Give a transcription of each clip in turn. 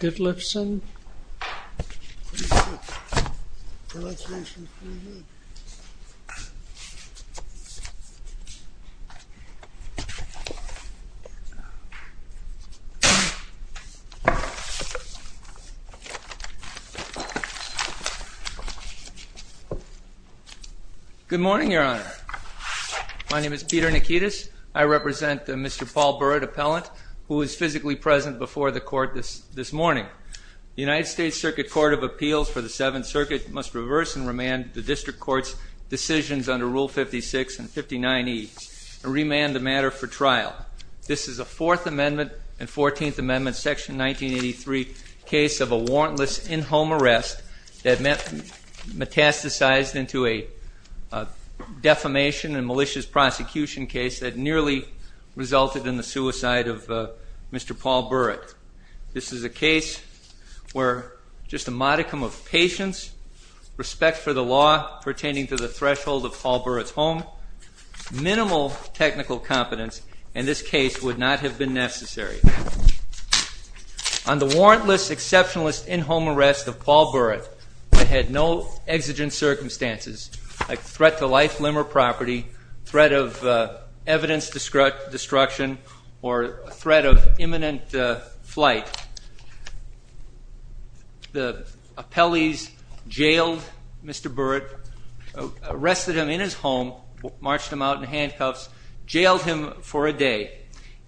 Good morning, Your Honor. My name is Peter Nikitas. I represent the Mr. Paul Burritt Appellant who is physically present before the court this morning. The United States Circuit Court of Appeals for the Seventh Circuit must reverse and remand the district court's decisions under Rule 56 and 59E and remand the matter for trial. This is a Fourth Amendment and Fourteenth Amendment Section 1983 case of a warrantless in-home arrest that metastasized into a defamation and malicious prosecution case that nearly resulted in the suicide of a man. This is a case where just a modicum of patience, respect for the law pertaining to the threshold of Paul Burritt's home, minimal technical competence in this case would not have been necessary. On the warrantless exceptionalist in-home arrest of Paul Burritt that had no exigent circumstances like threat to life, limb, or property, threat of evidence destruction, or threat of imminent flight, the appellees jailed Mr. Burritt, arrested him in his home, marched him out in handcuffs, jailed him for a day.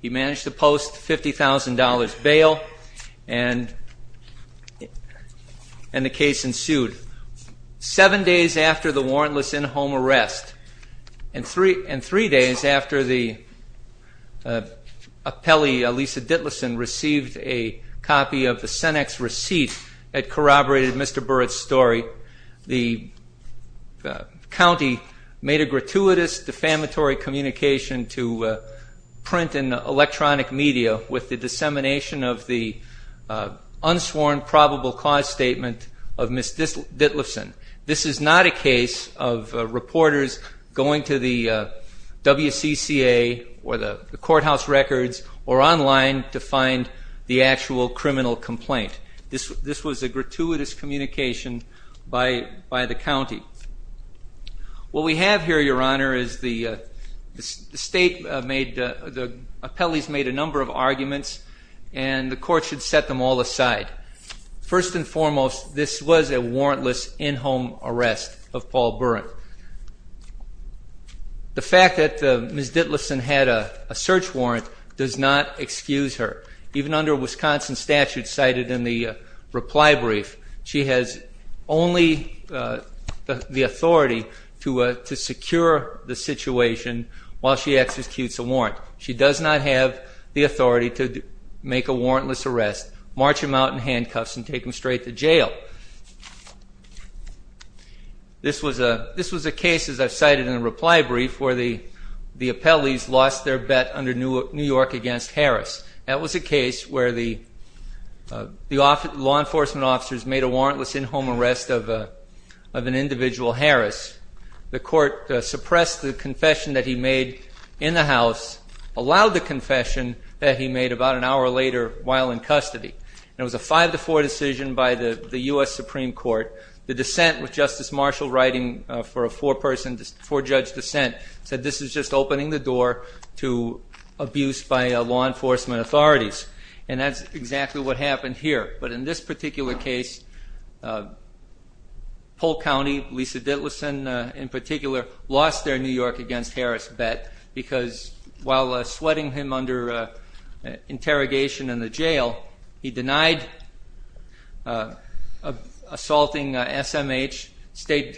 He managed to post a $50,000 bail and the case ensued. Seven days after the warrantless in-home arrest and three days after the appellee, Lisa Dittleson, received a copy of the Cenex receipt that corroborated Mr. Burritt's story, the county made a gratuitous defamatory communication to Prince, and electronic media with the dissemination of the unsworn probable cause statement of Ms. Dittleson. This is not a case of reporters going to the WCCA or the courthouse records or online to find the actual criminal complaint. This was a gratuitous communication by the county. What we have here, Your Honor, is the state made, the appellees made a number of arguments and the court should set them all aside. First and foremost, this was a warrantless in-home arrest of Paul Burritt. The fact that Ms. Dittleson had a search warrant does not excuse her. Even under Wisconsin statute cited in the reply brief, she has only the authority to secure the situation while she executes a warrant. She does not have the authority to make a warrantless arrest, march him out in handcuffs and take him straight to jail. This was a case, as I've cited in the reply brief, where the appellees lost their bet under New York against Harris. That was a case where the law enforcement officers made a warrantless in-home arrest of an individual, Harris. The court suppressed the confession that he made in the house, allowed the confession that he made about an hour later while in custody. It was a 5-4 decision by the U.S. Supreme Court. The dissent with Justice Marshall writing for a four-judge dissent said this is just opening the door to abuse by law enforcement authorities. And that's exactly what happened here. But in this particular case, Polk County, Lisa Dittleson in particular, lost their New York against Harris bet because while sweating him under interrogation in the jail, he denied assaulting SMH, stayed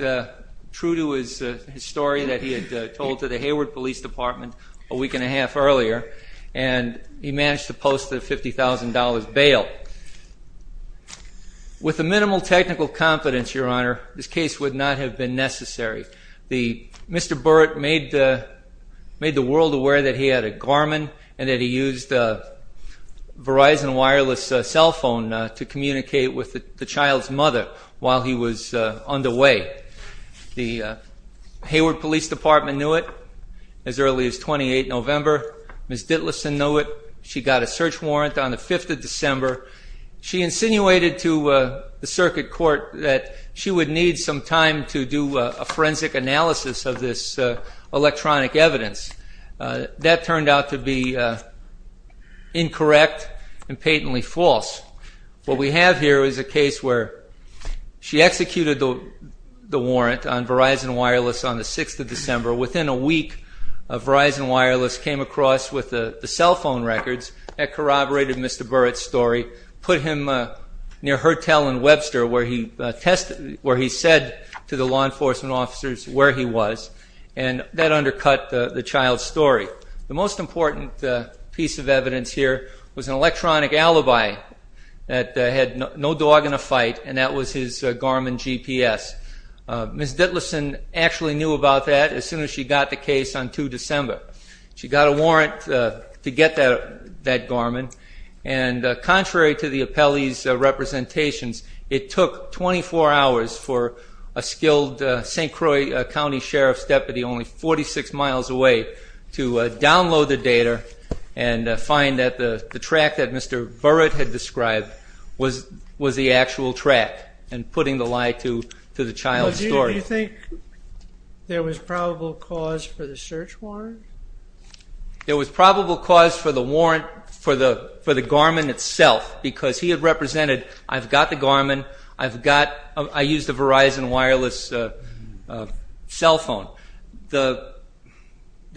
true to his story that he had told to the Hayward Police Department a week and a half earlier, and he managed to post a $50,000 bail. With the minimal technical competence, Your Honor, this case would not have been necessary. Mr. Burrett made the world aware that he had a Garmin and that he used a Verizon wireless cell phone to communicate with the child's mother while he was underway. The Hayward Police Department knew it as early as 28 November. Ms. Dittleson knew it. She got a search warrant on the 5th of December. She insinuated to the circuit court that she would need some time to do a forensic analysis of this electronic evidence. That turned out to be incorrect and patently false. What we have here is a case where she executed the warrant on Verizon wireless on the 6th of December. Within a week, Verizon wireless came across with the cell phone records that corroborated Mr. Burrett's story, put him near Hertel and Webster where he said to the law enforcement officers where he was, and that undercut the child's story. The most important piece of evidence here was an electronic alibi that had no dog in a fight, and that was his Garmin GPS. Ms. Dittleson actually knew about that as soon as she got the case on 2 December. She got a warrant to get that Garmin. Contrary to the appellee's representations, it took 24 hours for a skilled St. Croix County Sheriff's deputy only 46 miles away to download the data and find that the track that Mr. Burrett had described was the actual track and putting the lie to the child's story. Do you think there was probable cause for the search warrant? There was probable cause for the Garmin itself because he had represented, I've got the Garmin, I used a Verizon wireless cell phone. There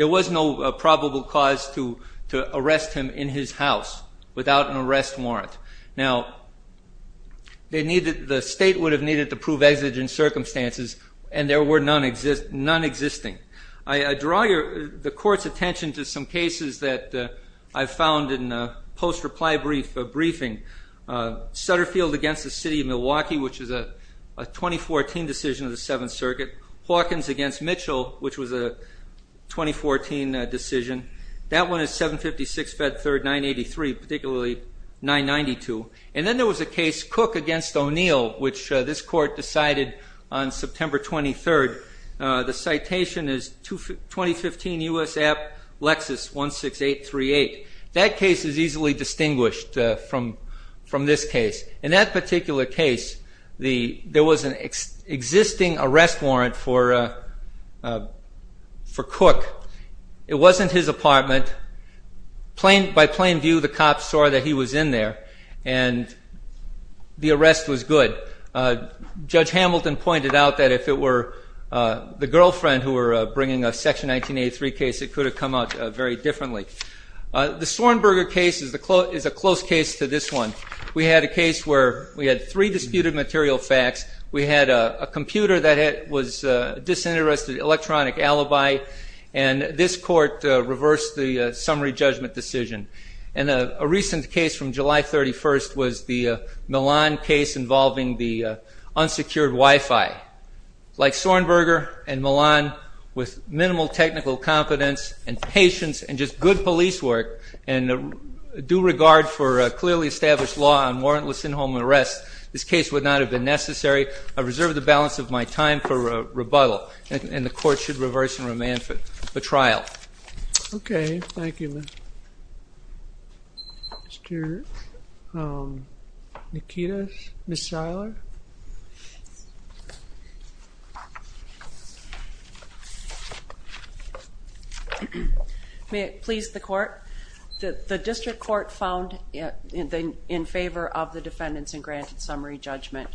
was no probable cause to arrest him in his house without an arrest warrant. Now, the state would have needed to prove exigent circumstances and there were none existing. I draw the court's attention to some cases that I found in a post-reply briefing. Sutterfield against the City of Milwaukee, which is a 2014 decision of the Seventh Circuit. Hawkins against Mitchell, which was a 2014 decision. That one is 756 Fed 3rd 983, particularly 992. And then there was a case, Cook against O'Neill, which this court decided on September 23rd. The citation is 2015 US App Lexus 16838. That case is easily distinguished from this case. In that particular case, there was an existing arrest warrant for Cook. It wasn't his apartment. By plain view, the cops saw that he was in there and the arrest was good. But Judge Hamilton pointed out that if it were the girlfriend who were bringing a Section 1983 case, it could have come out very differently. The Sornberger case is a close case to this one. We had a case where we had three disputed material facts. We had a computer that was disinterested, electronic alibi, and this court reversed the summary judgment decision. And a recent case from July 31st was the Milan case involving the unsecured Wi-Fi. Like Sornberger and Milan, with minimal technical competence and patience and just good police work and due regard for clearly established law on warrantless in-home arrests, this case would not have been necessary. I reserve the balance of my time for rebuttal, and the court should reverse and remand the trial. Okay, thank you. Mr. Nikitas? Ms. Shiler? May it please the court? The district court found in favor of the defendants in granted summary judgment.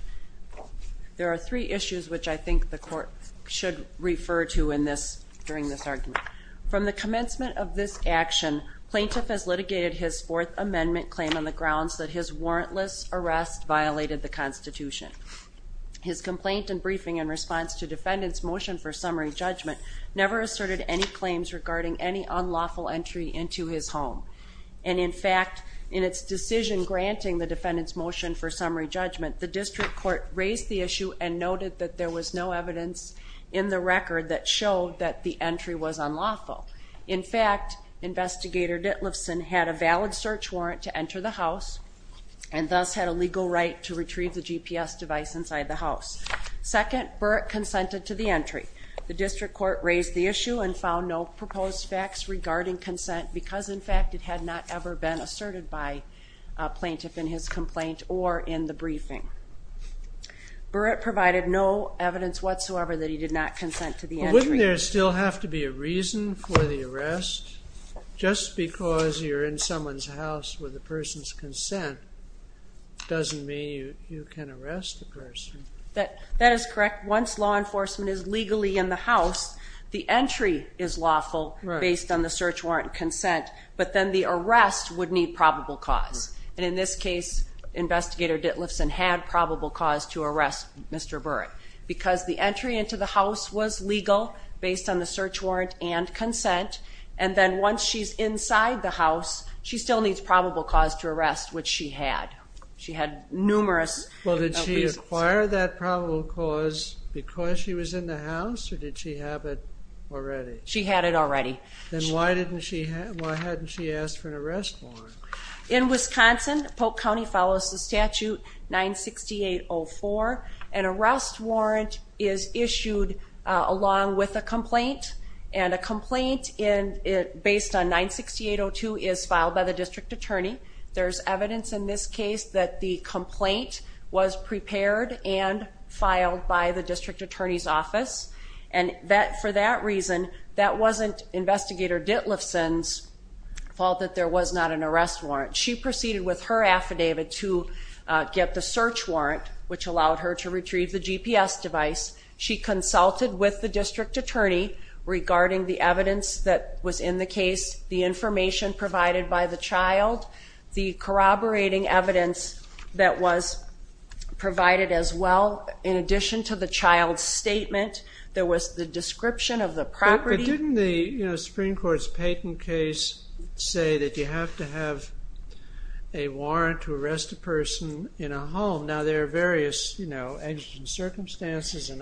There are three issues which I think the court should refer to during this argument. From the commencement of this action, plaintiff has litigated his Fourth Amendment claim on the grounds that his warrantless arrest violated the Constitution. His complaint and briefing in response to defendant's motion for summary judgment never asserted any claims regarding any unlawful entry into his home. And in fact, in its decision granting the defendant's motion for summary judgment, the district court raised the issue and noted that there was no evidence in the record that showed that the entry was unlawful. In fact, Investigator Ditliffson had a valid search warrant to enter the house and thus had a legal right to retrieve the GPS device inside the house. Second, Burrett consented to the entry. The district court raised the issue and found no proposed facts regarding consent because in fact it had not ever been asserted by a plaintiff in his complaint or in the briefing. Burrett provided no evidence whatsoever that he did not consent to the entry. Wouldn't there still have to be a reason for the arrest? Just because you're in someone's house with the person's consent doesn't mean you can arrest the person. That is correct. Once law enforcement is legally in the house, the entry is lawful based on the search warrant and consent, but then the arrest would need probable cause. And in this case, Investigator Ditliffson had probable cause to arrest Mr. Burrett because the entry into the house was legal based on the search warrant and consent. And then once she's inside the house, she still needs probable cause to arrest, which she had. Well, did she acquire that probable cause because she was in the house or did she have it already? She had it already. Then why hadn't she asked for an arrest warrant? In Wisconsin, Polk County follows the statute 96804. An arrest warrant is issued along with a complaint and a complaint based on 96802 is filed by the district attorney. There's evidence in this case that the complaint was prepared and filed by the district attorney's office. And for that reason, that wasn't Investigator Ditliffson's fault that there was not an arrest warrant. She proceeded with her affidavit to get the search warrant, which allowed her to retrieve the GPS device. She consulted with the district attorney regarding the evidence that was in the case, the information provided by the child, the corroborating evidence that was provided as well. In addition to the child's statement, there was the description of the property. Didn't the Supreme Court's Payton case say that you have to have a warrant to arrest a person in a home? Now, there are various, you know, circumstances and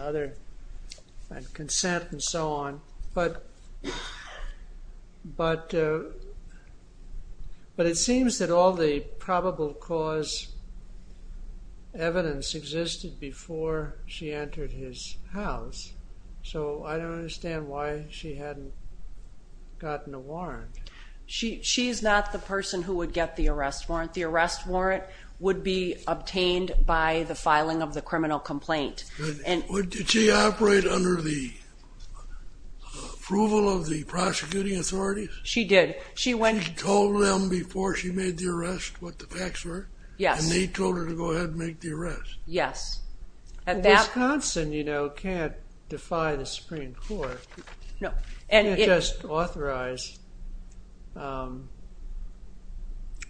consent and so on. But it seems that all the probable cause evidence existed before she entered his house. So I don't understand why she hadn't gotten a warrant. She's not the person who would get the arrest warrant. The arrest warrant would be obtained by the filing of the criminal complaint. Did she operate under the approval of the prosecuting authorities? She did. She told them before she made the arrest what the facts were? Yes. And they told her to go ahead and make the arrest? Yes. Wisconsin, you know, can't defy the Supreme Court. No. You can't just authorize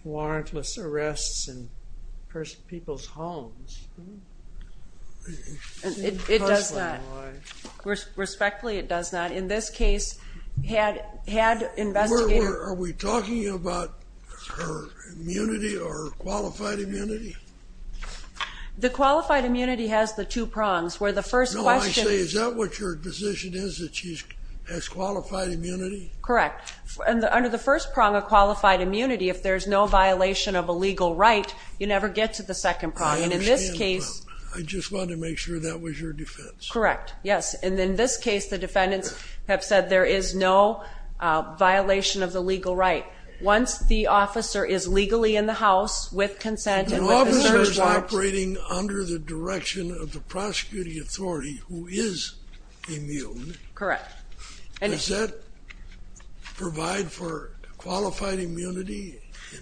warrantless arrests in people's homes. It does not. Respectfully, it does not. In this case, had investigators... Are we talking about her immunity or qualified immunity? The qualified immunity has the two prongs, where the first question... No, I say, is that what your position is, that she has qualified immunity? Correct. Under the first prong of qualified immunity, if there's no violation of a legal right, you never get to the second prong. I understand, but I just wanted to make sure that was your defense. Correct. Yes. And in this case, the defendants have said there is no violation of the legal right. Once the officer is legally in the house with consent and with the search warrant... If an officer is operating under the direction of the prosecuting authority who is immune... Correct. Does that provide for qualified immunity?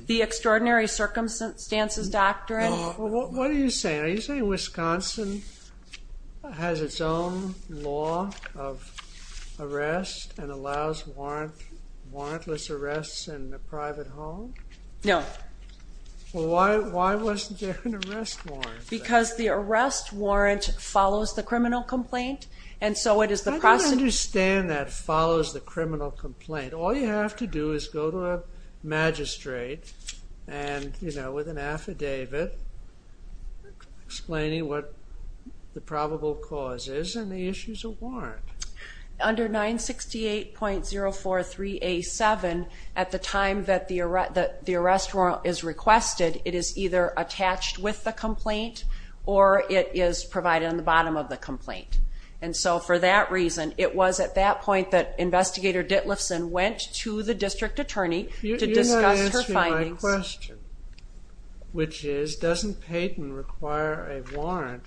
The extraordinary circumstances doctrine... What are you saying? Are you saying Wisconsin has its own law of arrest and allows warrantless arrests in the private home? No. Well, why wasn't there an arrest warrant? Because the arrest warrant follows the criminal complaint, and so it is the prosecutor... I don't understand that follows the criminal complaint. All you have to do is go to a magistrate with an affidavit explaining what the probable cause is, and the issue is a warrant. Under 968.043A7, at the time that the arrest warrant is requested, it is either attached with the complaint or it is provided on the bottom of the complaint. And so for that reason, it was at that point that Investigator Ditliffson went to the district attorney to discuss her findings. You're not answering my question, which is, doesn't Payton require a warrant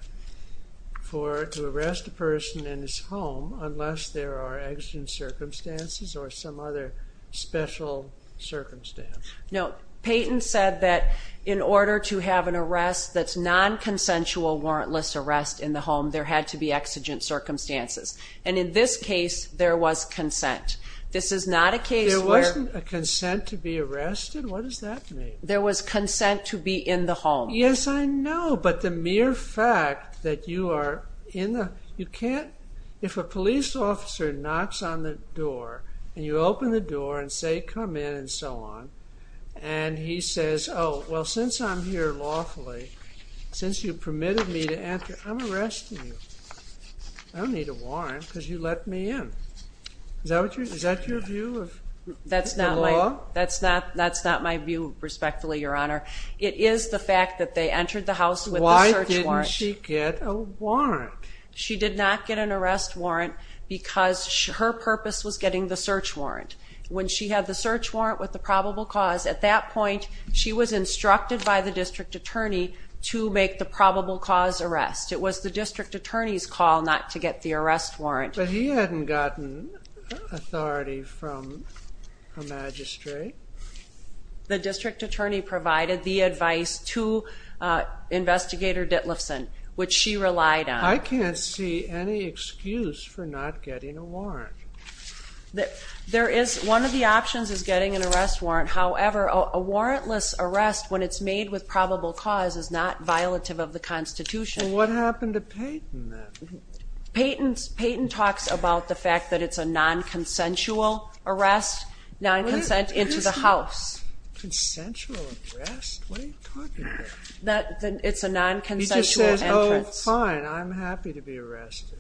to arrest a person in his home unless there are exigent circumstances or some other special circumstance? No. Payton said that in order to have an arrest that's non-consensual warrantless arrest in the home, there had to be exigent circumstances. And in this case, there was consent. This is not a case where... There wasn't a consent to be arrested? What does that mean? There was consent to be in the home. Yes, I know, but the mere fact that you are in the... You can't... If a police officer knocks on the door, and you open the door and say, come in, and so on, and he says, oh, well, since I'm here lawfully, since you permitted me to enter, I'm arresting you. I don't need a warrant because you let me in. Is that your view of the law? That's not my view, respectfully, Your Honor. It is the fact that they entered the house with a search warrant. Why didn't she get a warrant? She did not get an arrest warrant because her purpose was getting the search warrant. When she had the search warrant with the probable cause, at that point, she was instructed by the district attorney to make the probable cause arrest. It was the district attorney's call not to get the arrest warrant. But he hadn't gotten authority from the magistrate. The district attorney provided the advice to Investigator Ditliffson, which she relied on. I can't see any excuse for not getting a warrant. One of the options is getting an arrest warrant. However, a warrantless arrest, when it's made with probable cause, is not violative of the Constitution. What happened to Payton, then? Payton talks about the fact that it's a non-consensual arrest, non-consent into the house. What is a non-consensual arrest? What are you talking about? It's a non-consensual entrance. He just says, oh, fine. I'm happy to be arrested.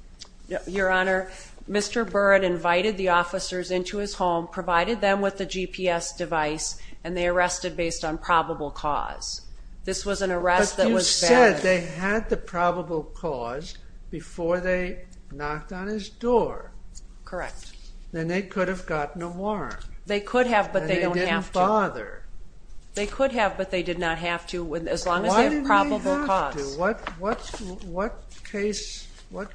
Your Honor, Mr. Byrd invited the officers into his home, provided them with a GPS device, and they arrested based on probable cause. This was an arrest that was fair. He said they had the probable cause before they knocked on his door. Correct. Then they could have gotten a warrant. They could have, but they don't have to. And they didn't bother. They could have, but they did not have to, as long as they have probable cause. Why didn't they have to? What case, what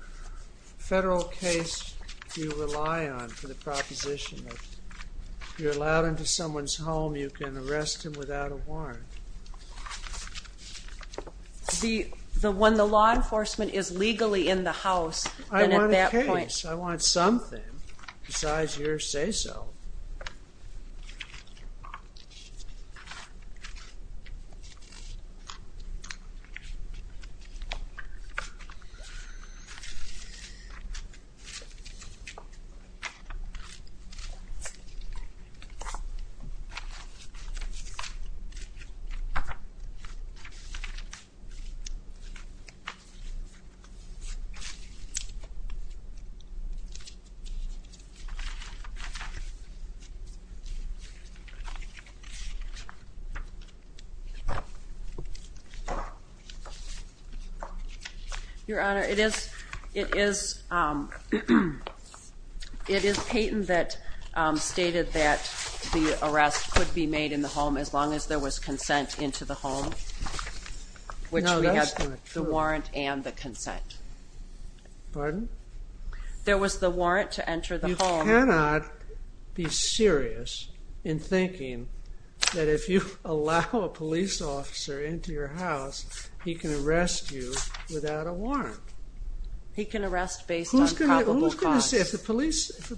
federal case do you rely on for the proposition that if you're allowed into someone's home, you can arrest him without a warrant? When the law enforcement is legally in the house, then at that point... I want a case. I want something besides your say-so. Your Honor, it is Payton that stated that the arrest could be made in the home as long as there was consent into the home. No, that's not true. Which we have the warrant and the consent. Pardon? There was the warrant to enter the home. You cannot be serious in thinking that if you allow a police officer into your house, he can arrest you without a warrant. He can arrest based on probable cause. If the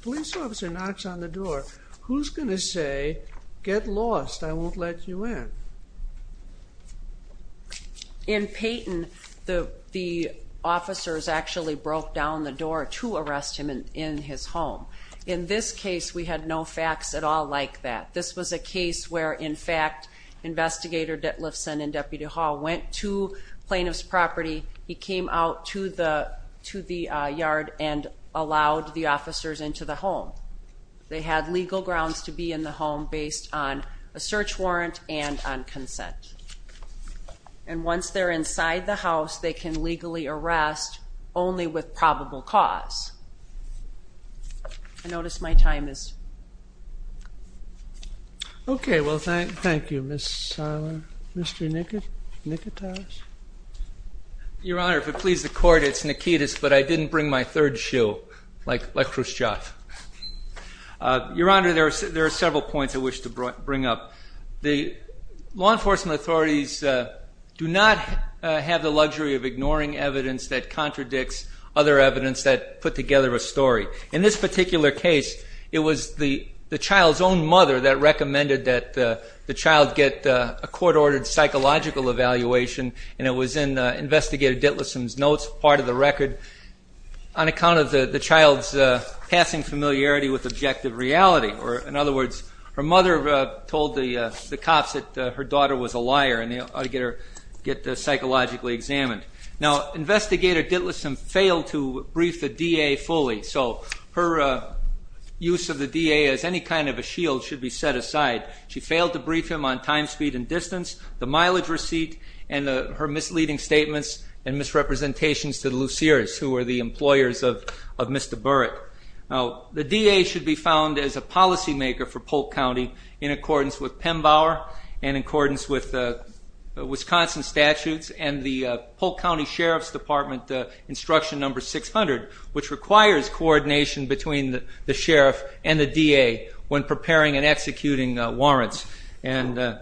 police officer knocks on the door, who's going to say, get lost, I won't let you in? In Payton, the officers actually broke down the door to arrest him in his home. In this case, we had no facts at all like that. This was a case where, in fact, Investigator Ditliffson and Deputy Hall went to plaintiff's property. He came out to the yard and allowed the officers into the home. They had legal grounds to be in the home based on a search warrant and on consent. And once they're inside the house, they can legally arrest only with probable cause. I notice my time is... Okay, well, thank you, Ms. Tyler. Mr. Nikitas? Your Honor, if it pleases the court, it's Nikitas, but I didn't bring my third shoe, like Khrushchev. Your Honor, there are several points I wish to bring up. The law enforcement authorities do not have the luxury of ignoring evidence that contradicts other evidence that put together a story. In this particular case, it was the child's own mother that recommended that the child get a court-ordered psychological evaluation. And it was in Investigator Ditliffson's notes, part of the record, on account of the child's passing familiarity with objective reality. Or, in other words, her mother told the cops that her daughter was a liar and they ought to get her psychologically examined. Now, Investigator Ditliffson failed to brief the DA fully. So her use of the DA as any kind of a shield should be set aside. She failed to brief him on time, speed, and distance, the mileage receipt, and her misleading statements and misrepresentations to the Luceres, who were the employers of Mr. Burrick. Now, the DA should be found as a policymaker for Polk County in accordance with PEMBAUER and in accordance with Wisconsin statutes and the Polk County Sheriff's Department instruction number 600, which requires coordination between the sheriff and the DA when preparing and executing warrants. And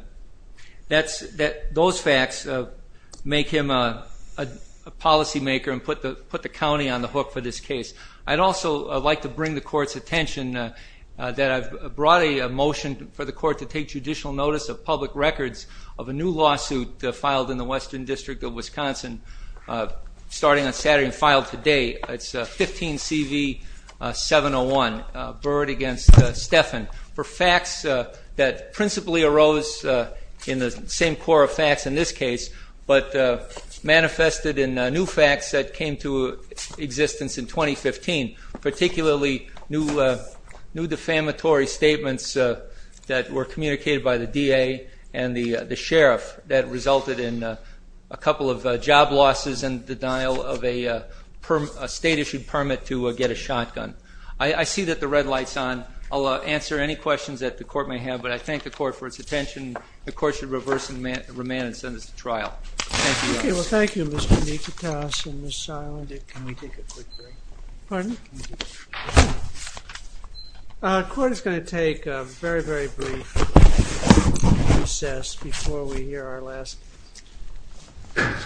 those facts make him a policymaker and put the county on the hook for this case. I'd also like to bring the court's attention that I've brought a motion for the court to take judicial notice of public records of a new lawsuit filed in the Western District of Wisconsin starting on Saturday and filed today. It's 15CV701, Byrd v. Steffen, for facts that principally arose in the same core of facts in this case, but manifested in new facts that came to existence in 2015, particularly new defamatory statements that were communicated by the DA and the sheriff that resulted in a couple of job losses and the denial of a state-issued permit to get a shotgun. I see that the red light's on. I'll answer any questions that the court may have, but I thank the court for its attention. The court should reverse and remand and send this to trial. Thank you, Your Honor. Okay, well, thank you, Mr. Nikitas and Ms. Seiland. Can we take a quick break? Pardon? The court is going to take a very, very brief recess before we hear our last witness.